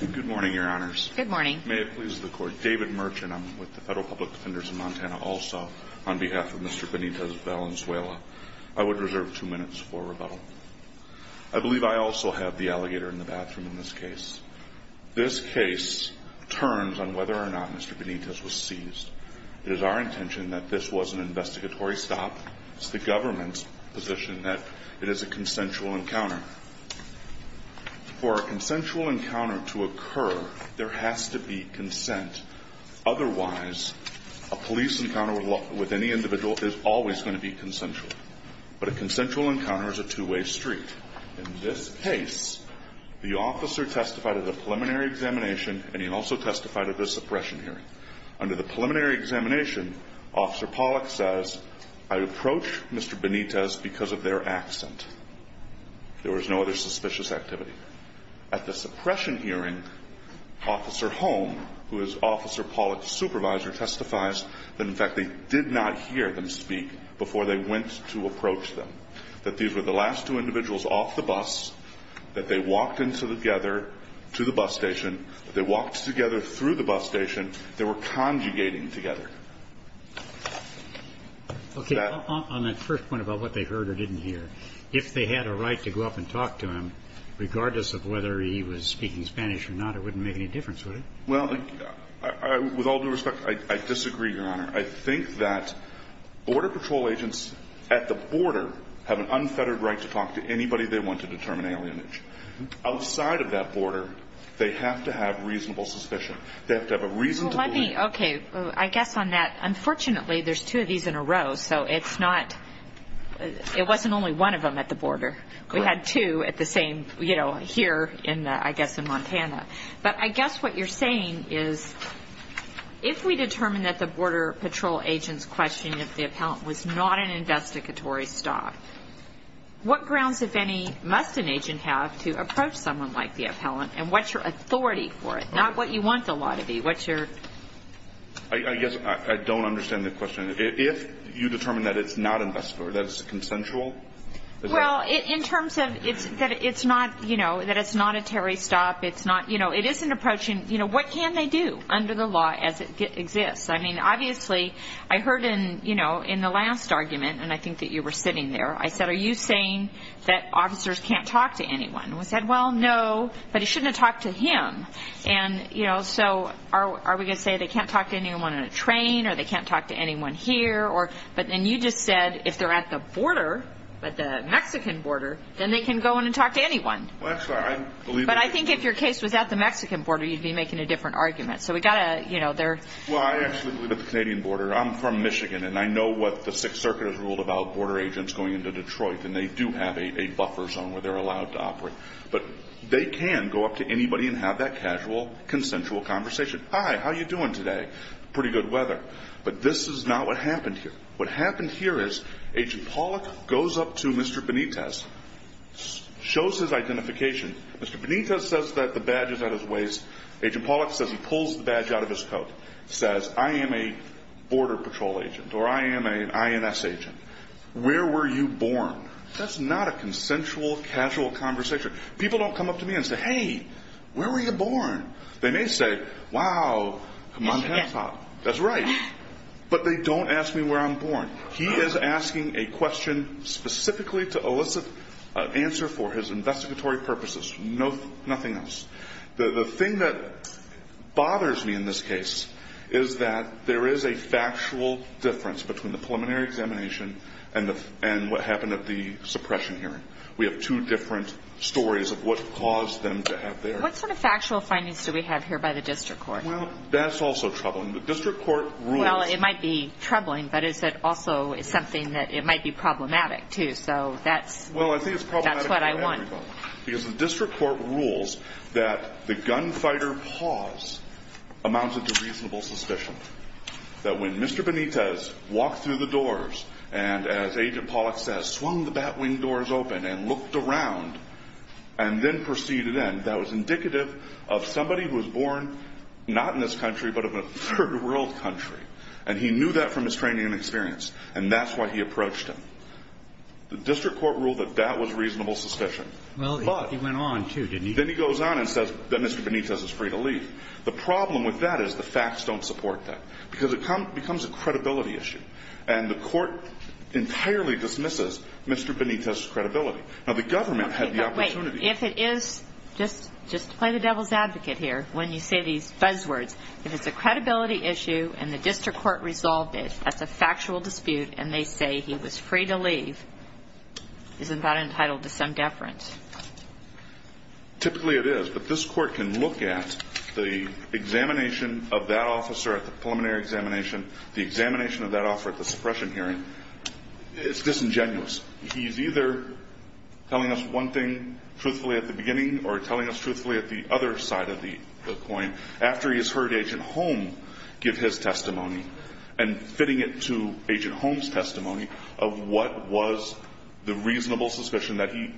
Good morning, your honors. Good morning. May it please the court. David Merchant. I'm with the Federal Public Defenders of Montana. Also, on behalf of Mr. Benitez-Valenzuela, I would reserve two minutes for rebuttal. I believe I also have the alligator in the bathroom in this case. This case turns on whether or not Mr. Benitez was seized. It is our intention that this was an investigatory stop. It's the government's position that it is a consensual encounter. For a consensual encounter to occur, there has to be consent. Otherwise, a police encounter with any individual is always going to be consensual. But a consensual encounter is a two-way street. In this case, the officer testified at the preliminary examination, and he also testified at the suppression hearing. Under the preliminary examination, Officer Pollack says, I approached Mr. Benitez because of their accent. There was no other suspicious activity. At the suppression hearing, Officer Holm, who is Officer Pollack's supervisor, testifies that, in fact, they did not hear them speak before they went to approach them. That these were the last two individuals off the bus, that they walked in together to the bus station, that they walked together through the bus station. They were conjugating together. Okay. On that first point about what they heard or didn't hear, if they had a right to go up and talk to him, regardless of whether he was speaking Spanish or not, it wouldn't make any difference, would it? Well, with all due respect, I disagree, Your Honor. I think that Border Patrol agents at the border have an unfettered right to talk to anybody they want to determine alienation. Outside of that border, they have to have reasonable suspicion. They have to have a reason to believe. Okay. I guess on that, unfortunately, there's two of these in a row, so it's not – it wasn't only one of them at the border. Correct. We had two at the same, you know, here in, I guess, in Montana. But I guess what you're saying is, if we determine that the Border Patrol agent's questioning of the appellant was not an investigatory stop, what grounds, if any, must an agent have to approach someone like the appellant, and what's your authority for it? Not what you want the law to be, what's your – I guess I don't understand the question. If you determine that it's not investigatory, that it's consensual? Well, in terms of it's – that it's not, you know, that it's not a terry stop, it's not – you know, it isn't approaching – you know, what can they do under the law as it exists? I mean, obviously, I heard in, you know, in the last argument, and I think that you were sitting there, I said, are you saying that officers can't talk to anyone? And they said, well, no, but you shouldn't have talked to him. And, you know, so are we going to say they can't talk to anyone on a train, or they can't talk to anyone here, or – But then you just said if they're at the border, at the Mexican border, then they can go in and talk to anyone. Well, actually, I believe – But I think if your case was at the Mexican border, you'd be making a different argument. So we've got to – you know, there – Well, I actually believe at the Canadian border. I'm from Michigan, and I know what the Sixth Circuit has ruled about border agents going into Detroit, and they do have a buffer zone where they're allowed to operate. But they can go up to anybody and have that casual, consensual conversation. Hi, how are you doing today? Pretty good weather. But this is not what happened here. What happened here is Agent Pollack goes up to Mr. Benitez, shows his identification. Mr. Benitez says that the badge is at his waist. Agent Pollack says he pulls the badge out of his coat, says, I am a Border Patrol agent, or I am an INS agent. Where were you born? That's not a consensual, casual conversation. People don't come up to me and say, hey, where were you born? They may say, wow, come on, desktop. That's right. But they don't ask me where I'm born. He is asking a question specifically to elicit an answer for his investigatory purposes, nothing else. The thing that bothers me in this case is that there is a factual difference between the preliminary examination and what happened at the suppression hearing. We have two different stories of what caused them to have their – What sort of factual findings do we have here by the district court? Well, that's also troubling. The district court rules – Well, it might be troubling, but is it also something that – it might be problematic, too. So that's – Well, I think it's problematic for everybody. That's what I want. Because the district court rules that the gunfighter pause amounted to reasonable suspicion. That when Mr. Benitez walked through the doors and, as Agent Pollack says, swung the batwing doors open and looked around and then proceeded in, that was indicative of somebody who was born not in this country but of a third world country. And he knew that from his training and experience. And that's why he approached him. The district court ruled that that was reasonable suspicion. Well, he went on, too, didn't he? Then he goes on and says that Mr. Benitez is free to leave. The problem with that is the facts don't support that because it becomes a credibility issue. And the court entirely dismisses Mr. Benitez's credibility. Now, the government had the opportunity – Okay, but wait. If it is – just play the devil's advocate here when you say these buzzwords. If it's a credibility issue and the district court resolved it as a factual dispute and they say he was free to leave, isn't that entitled to some deference? Typically, it is. But this court can look at the examination of that officer at the preliminary examination, the examination of that officer at the suppression hearing. It's disingenuous. He's either telling us one thing truthfully at the beginning or telling us truthfully at the other side of the coin after he has heard Agent Home give his testimony and fitting it to Agent Home's testimony of what was the reasonable suspicion that he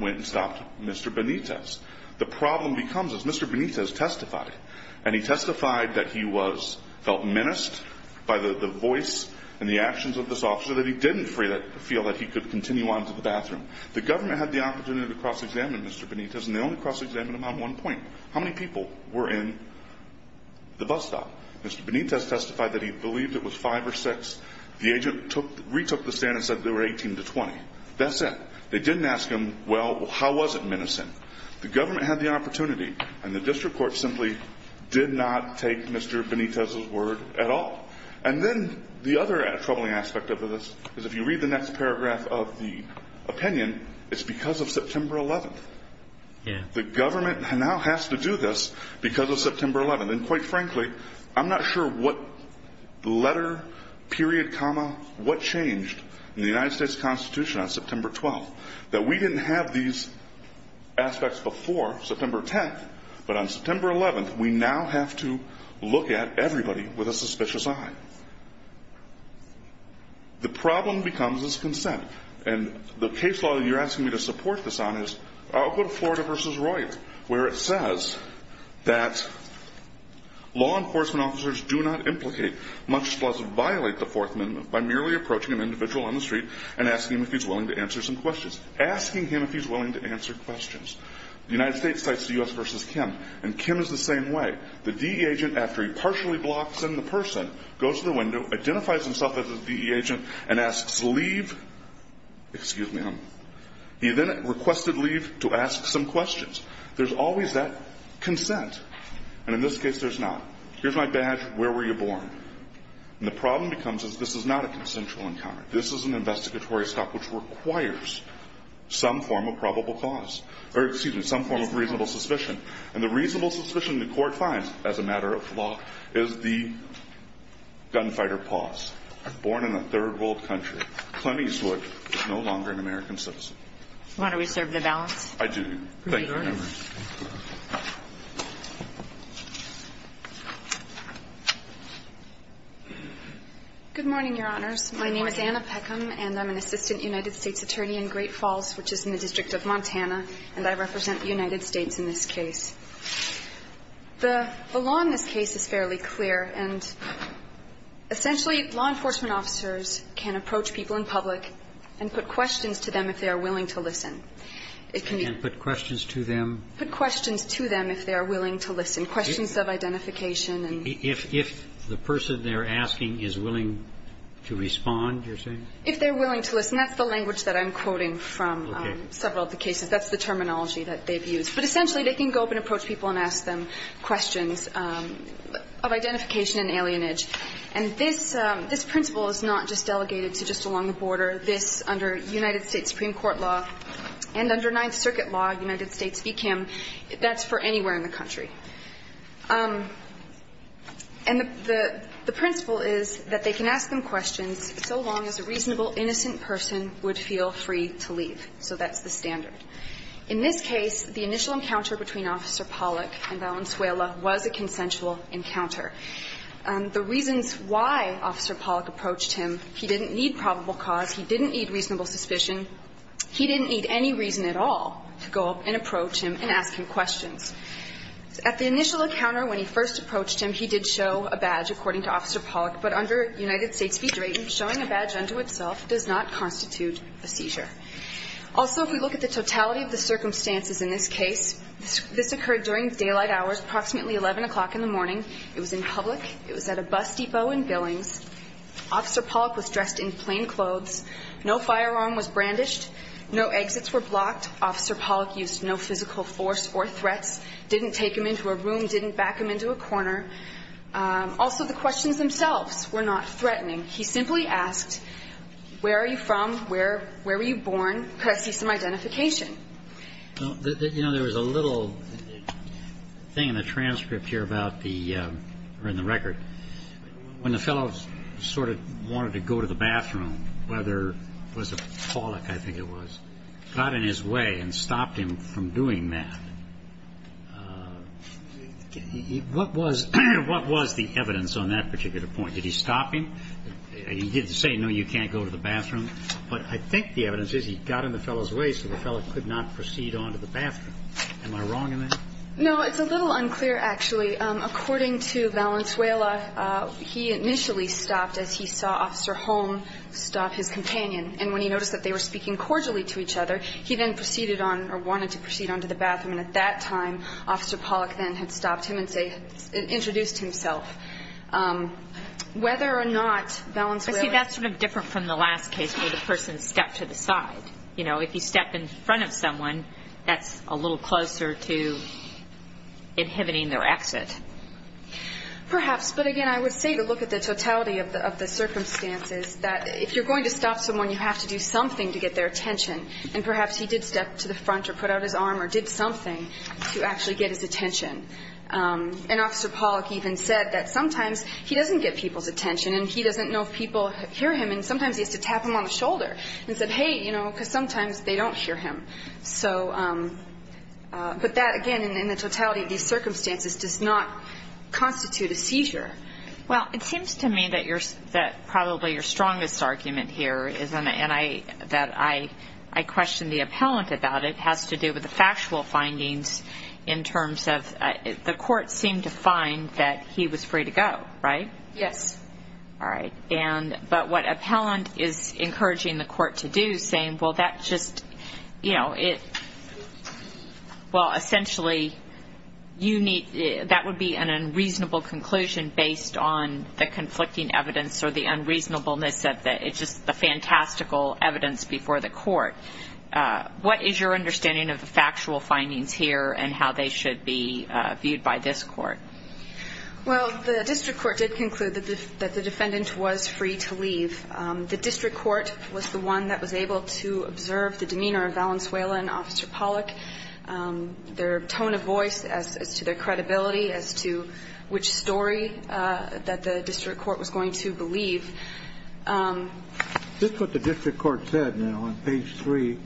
went and stopped Mr. Benitez. The problem becomes, as Mr. Benitez testified, and he testified that he felt menaced by the voice and the actions of this officer that he didn't feel that he could continue on to the bathroom. The government had the opportunity to cross-examine Mr. Benitez, and they only cross-examined him on one point. How many people were in the bus stop? Mr. Benitez testified that he believed it was five or six. The agent retook the stand and said there were 18 to 20. That's it. They didn't ask him, well, how was it menacing? The government had the opportunity, and the district court simply did not take Mr. Benitez's word at all. And then the other troubling aspect of this is if you read the next paragraph of the opinion, it's because of September 11th. The government now has to do this because of September 11th. And quite frankly, I'm not sure what letter, period, comma, what changed in the United States Constitution on September 12th that we didn't have these aspects before September 10th, but on September 11th we now have to look at everybody with a suspicious eye. The problem becomes is consent. And the case law that you're asking me to support this on is, I'll go to Florida v. Royer, where it says that law enforcement officers do not implicate, much less violate the Fourth Amendment by merely approaching an individual on the street and asking him if he's willing to answer some questions. Asking him if he's willing to answer questions. The United States cites the U.S. v. Kim, and Kim is the same way. The DE agent, after he partially blocks in the person, goes to the window, identifies himself as a DE agent, and asks leave. Excuse me. He then requested leave to ask some questions. There's always that consent. And in this case there's not. Here's my badge. Where were you born? And the problem becomes is this is not a consensual encounter. This is an investigatory stop which requires some form of probable cause. Or excuse me, some form of reasonable suspicion. And the reasonable suspicion the Court finds, as a matter of law, is the gunfighter pause. Born in a third world country. Clint Eastwood is no longer an American citizen. Why don't we serve the balance? I do. Thank you. Good morning, Your Honors. My name is Anna Peckham, and I'm an assistant United States attorney in Great Falls, which is in the District of Montana, and I represent the United States in this case. The law in this case is fairly clear, and essentially law enforcement officers can approach people in public and put questions to them if they are willing to listen. It can be put questions to them. Put questions to them if they are willing to listen. Questions of identification. If the person they're asking is willing to respond, you're saying? If they're willing to listen. That's the language that I'm quoting from several of the cases. That's the terminology that they've used. But essentially they can go up and approach people and ask them questions of identification and alienage. And this principle is not just delegated to just along the border. This, under United States Supreme Court law and under Ninth Circuit law, United States VCAM, that's for anywhere in the country. And the principle is that they can ask them questions so long as a reasonable, innocent person would feel free to leave. So that's the standard. In this case, the initial encounter between Officer Pollack and Valenzuela was a consensual encounter. The reasons why Officer Pollack approached him, he didn't need probable cause, he didn't need reasonable suspicion, he didn't need any reason at all to go up and approach him and ask him questions. At the initial encounter, when he first approached him, he did show a badge, according to Officer Pollack. But under United States v. Drayton, showing a badge unto itself does not constitute a seizure. Also, if we look at the totality of the circumstances in this case, this occurred during daylight hours, approximately 11 o'clock in the morning. It was in public. It was at a bus depot in Billings. Officer Pollack was dressed in plain clothes. No firearm was brandished. No exits were blocked. Officer Pollack used no physical force or threats, didn't take him into a room, didn't back him into a corner. Also, the questions themselves were not threatening. He simply asked, where are you from? Where were you born? Could I see some identification? You know, there was a little thing in the transcript here about the record. When the fellow sort of wanted to go to the bathroom, whether it was Pollack, I think it was, got in his way and stopped him from doing that. What was the evidence on that particular point? Did he stop him? He didn't say, no, you can't go to the bathroom. But I think the evidence is he got in the fellow's way so the fellow could not proceed on to the bathroom. Am I wrong in that? No, it's a little unclear, actually. According to Valenzuela, he initially stopped as he saw Officer Holm stop his companion. And when he noticed that they were speaking cordially to each other, he then proceeded on or wanted to proceed on to the bathroom. And at that time, Officer Pollack then had stopped him and introduced himself. Whether or not Valenzuela ---- See, that's sort of different from the last case where the person stepped to the side. You know, if you step in front of someone, that's a little closer to inhibiting their exit. Perhaps. But, again, I would say to look at the totality of the circumstances, that if you're going to stop someone, you have to do something to get their attention. And perhaps he did step to the front or put out his arm or did something to actually get his attention. And Officer Pollack even said that sometimes he doesn't get people's attention and he doesn't know if people hear him. And sometimes he has to tap them on the shoulder and say, hey, you know, because sometimes they don't hear him. But that, again, in the totality of these circumstances, does not constitute a seizure. Well, it seems to me that probably your strongest argument here is, and I question the appellant about it, has to do with the factual findings in terms of the court seemed to find that he was free to go, right? Yes. All right. But what appellant is encouraging the court to do is saying, well, that just, you know, based on the conflicting evidence or the unreasonableness of it, it's just the fantastical evidence before the court. What is your understanding of the factual findings here and how they should be viewed by this court? Well, the district court did conclude that the defendant was free to leave. The district court was the one that was able to observe the demeanor of Valenzuela and Officer Pollack, their tone of voice as to their credibility, as to which story that the district court was going to believe. Is this what the district court said now on page 3?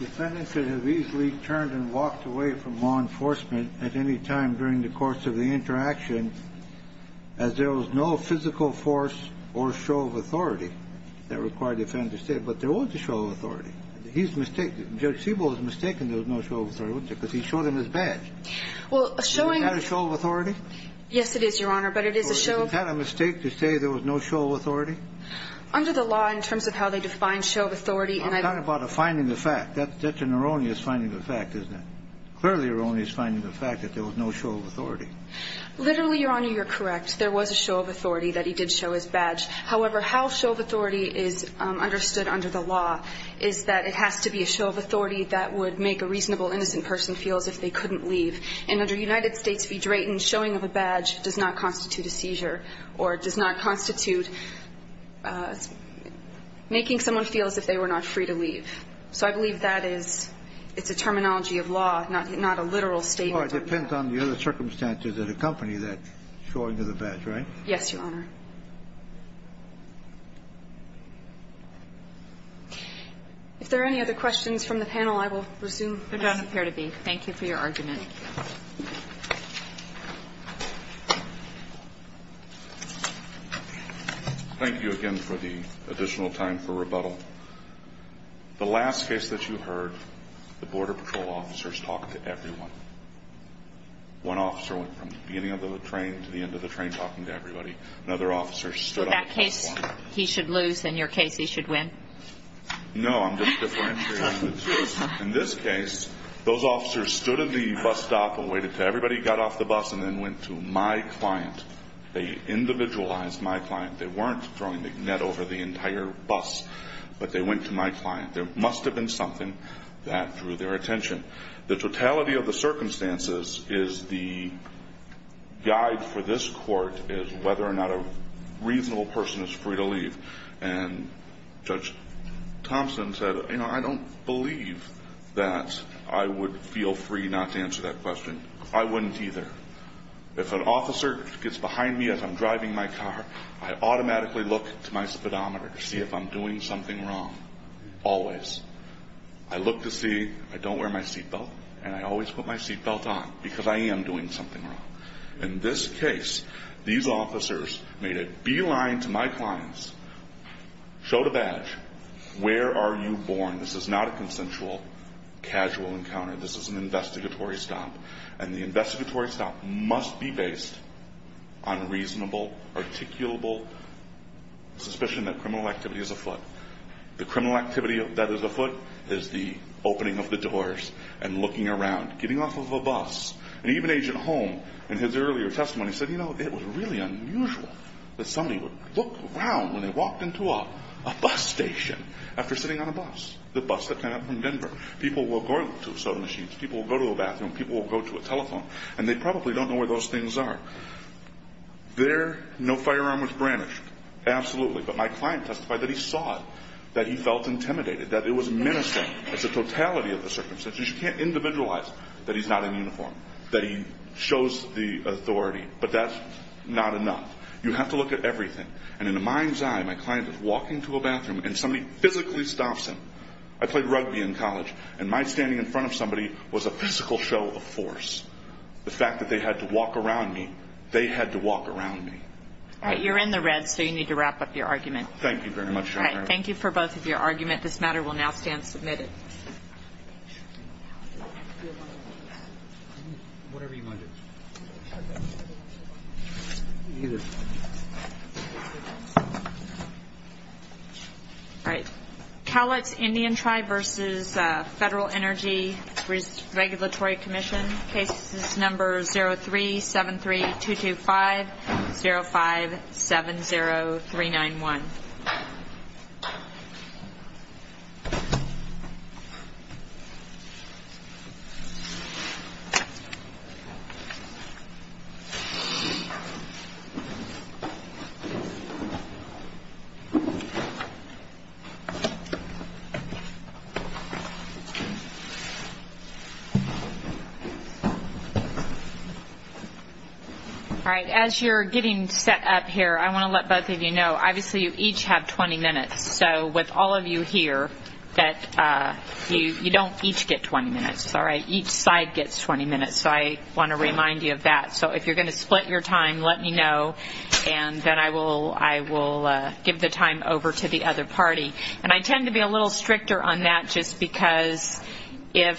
Defendants should have easily turned and walked away from law enforcement at any time during the course of the interaction as there was no physical force or show of authority that required the defendant to stay. But there was a show of authority. He's mistaken. Judge Siebel is mistaken there was no show of authority, wasn't there, because he showed him his badge. Well, a showing of authority. Is that a show of authority? Yes, it is, Your Honor, but it is a show of authority. Was that a mistake to say there was no show of authority? Under the law, in terms of how they define show of authority, and I've I'm talking about a finding of fact. That's an erroneous finding of fact, isn't it? Clearly, erroneous finding of fact that there was no show of authority. Literally, Your Honor, you're correct. There was a show of authority that he did show his badge. However, how show of authority is understood under the law is that it has to be a show of authority that would make a reasonable innocent person feel as if they couldn't leave. And under United States v. Drayton, showing of a badge does not constitute a seizure or does not constitute making someone feel as if they were not free to leave. So I believe that is It's a terminology of law, not a literal statement. Well, it depends on the other circumstances that accompany that showing of the badge, right? Yes, Your Honor. If there are any other questions from the panel, I will resume. Thank you for your argument. Thank you again for the additional time for rebuttal. The last case that you heard, the Border Patrol officers talked to everyone. One officer went from the beginning of the train to the end of the train talking to everybody. Another officer stood up. So in that case, he should lose. In your case, he should win. No. In this case, those officers stood at the bus stop and waited until everybody got off the bus and then went to my client. They individualized my client. They weren't throwing the net over the entire bus. But they went to my client. There must have been something that drew their attention. The totality of the circumstances is the guide for this court is whether or not a reasonable person is free to leave. And Judge Thompson said, you know, I don't believe that I would feel free not to answer that question. I wouldn't either. If an officer gets behind me as I'm driving my car, I automatically look to my speedometer to see if I'm doing something wrong. Always. I look to see I don't wear my seatbelt and I always put my seatbelt on because I am doing something wrong. In this case, these officers made a beeline to my clients, showed a badge. Where are you born? This is not a consensual, casual encounter. This is an investigatory stop. And the investigatory stop must be based on reasonable, articulable suspicion that criminal activity is afoot. The criminal activity that is afoot is the opening of the doors and looking around, getting off of a bus. And even Agent Holm, in his earlier testimony, said, you know, it was really unusual that somebody would look around when they walked into a bus station after sitting on a bus, the bus that came up from Denver. People will go to soda machines. People will go to the bathroom. People will go to a telephone. And they probably don't know where those things are. There, no firearm was brandished. Absolutely. But my client testified that he saw it, that he felt intimidated, that it was menacing. It's the totality of the circumstances. You can't individualize that he's not in uniform, that he shows the authority. But that's not enough. You have to look at everything. And in a mind's eye, my client is walking to a bathroom and somebody physically stops him. I played rugby in college, and my standing in front of somebody was a physical show of force. The fact that they had to walk around me, they had to walk around me. All right. You're in the red, so you need to wrap up your argument. Thank you very much, Your Honor. All right. Thank you for both of your arguments. This matter will now stand submitted. Thank you. Whatever you want to do. Either. All right. Calix Indian Tribe versus Federal Energy Regulatory Commission. Cases number 0373-225-0570391. All right. As you're getting set up here, I want to let both of you know, obviously you each have 20 minutes. So with all of you here, you don't each get 20 minutes. All right. Each side gets 20 minutes, so I want to remind you of that. So if you're going to split your time, let me know, and then I will give the time over to the other party. And I tend to be a little stricter on that, just because if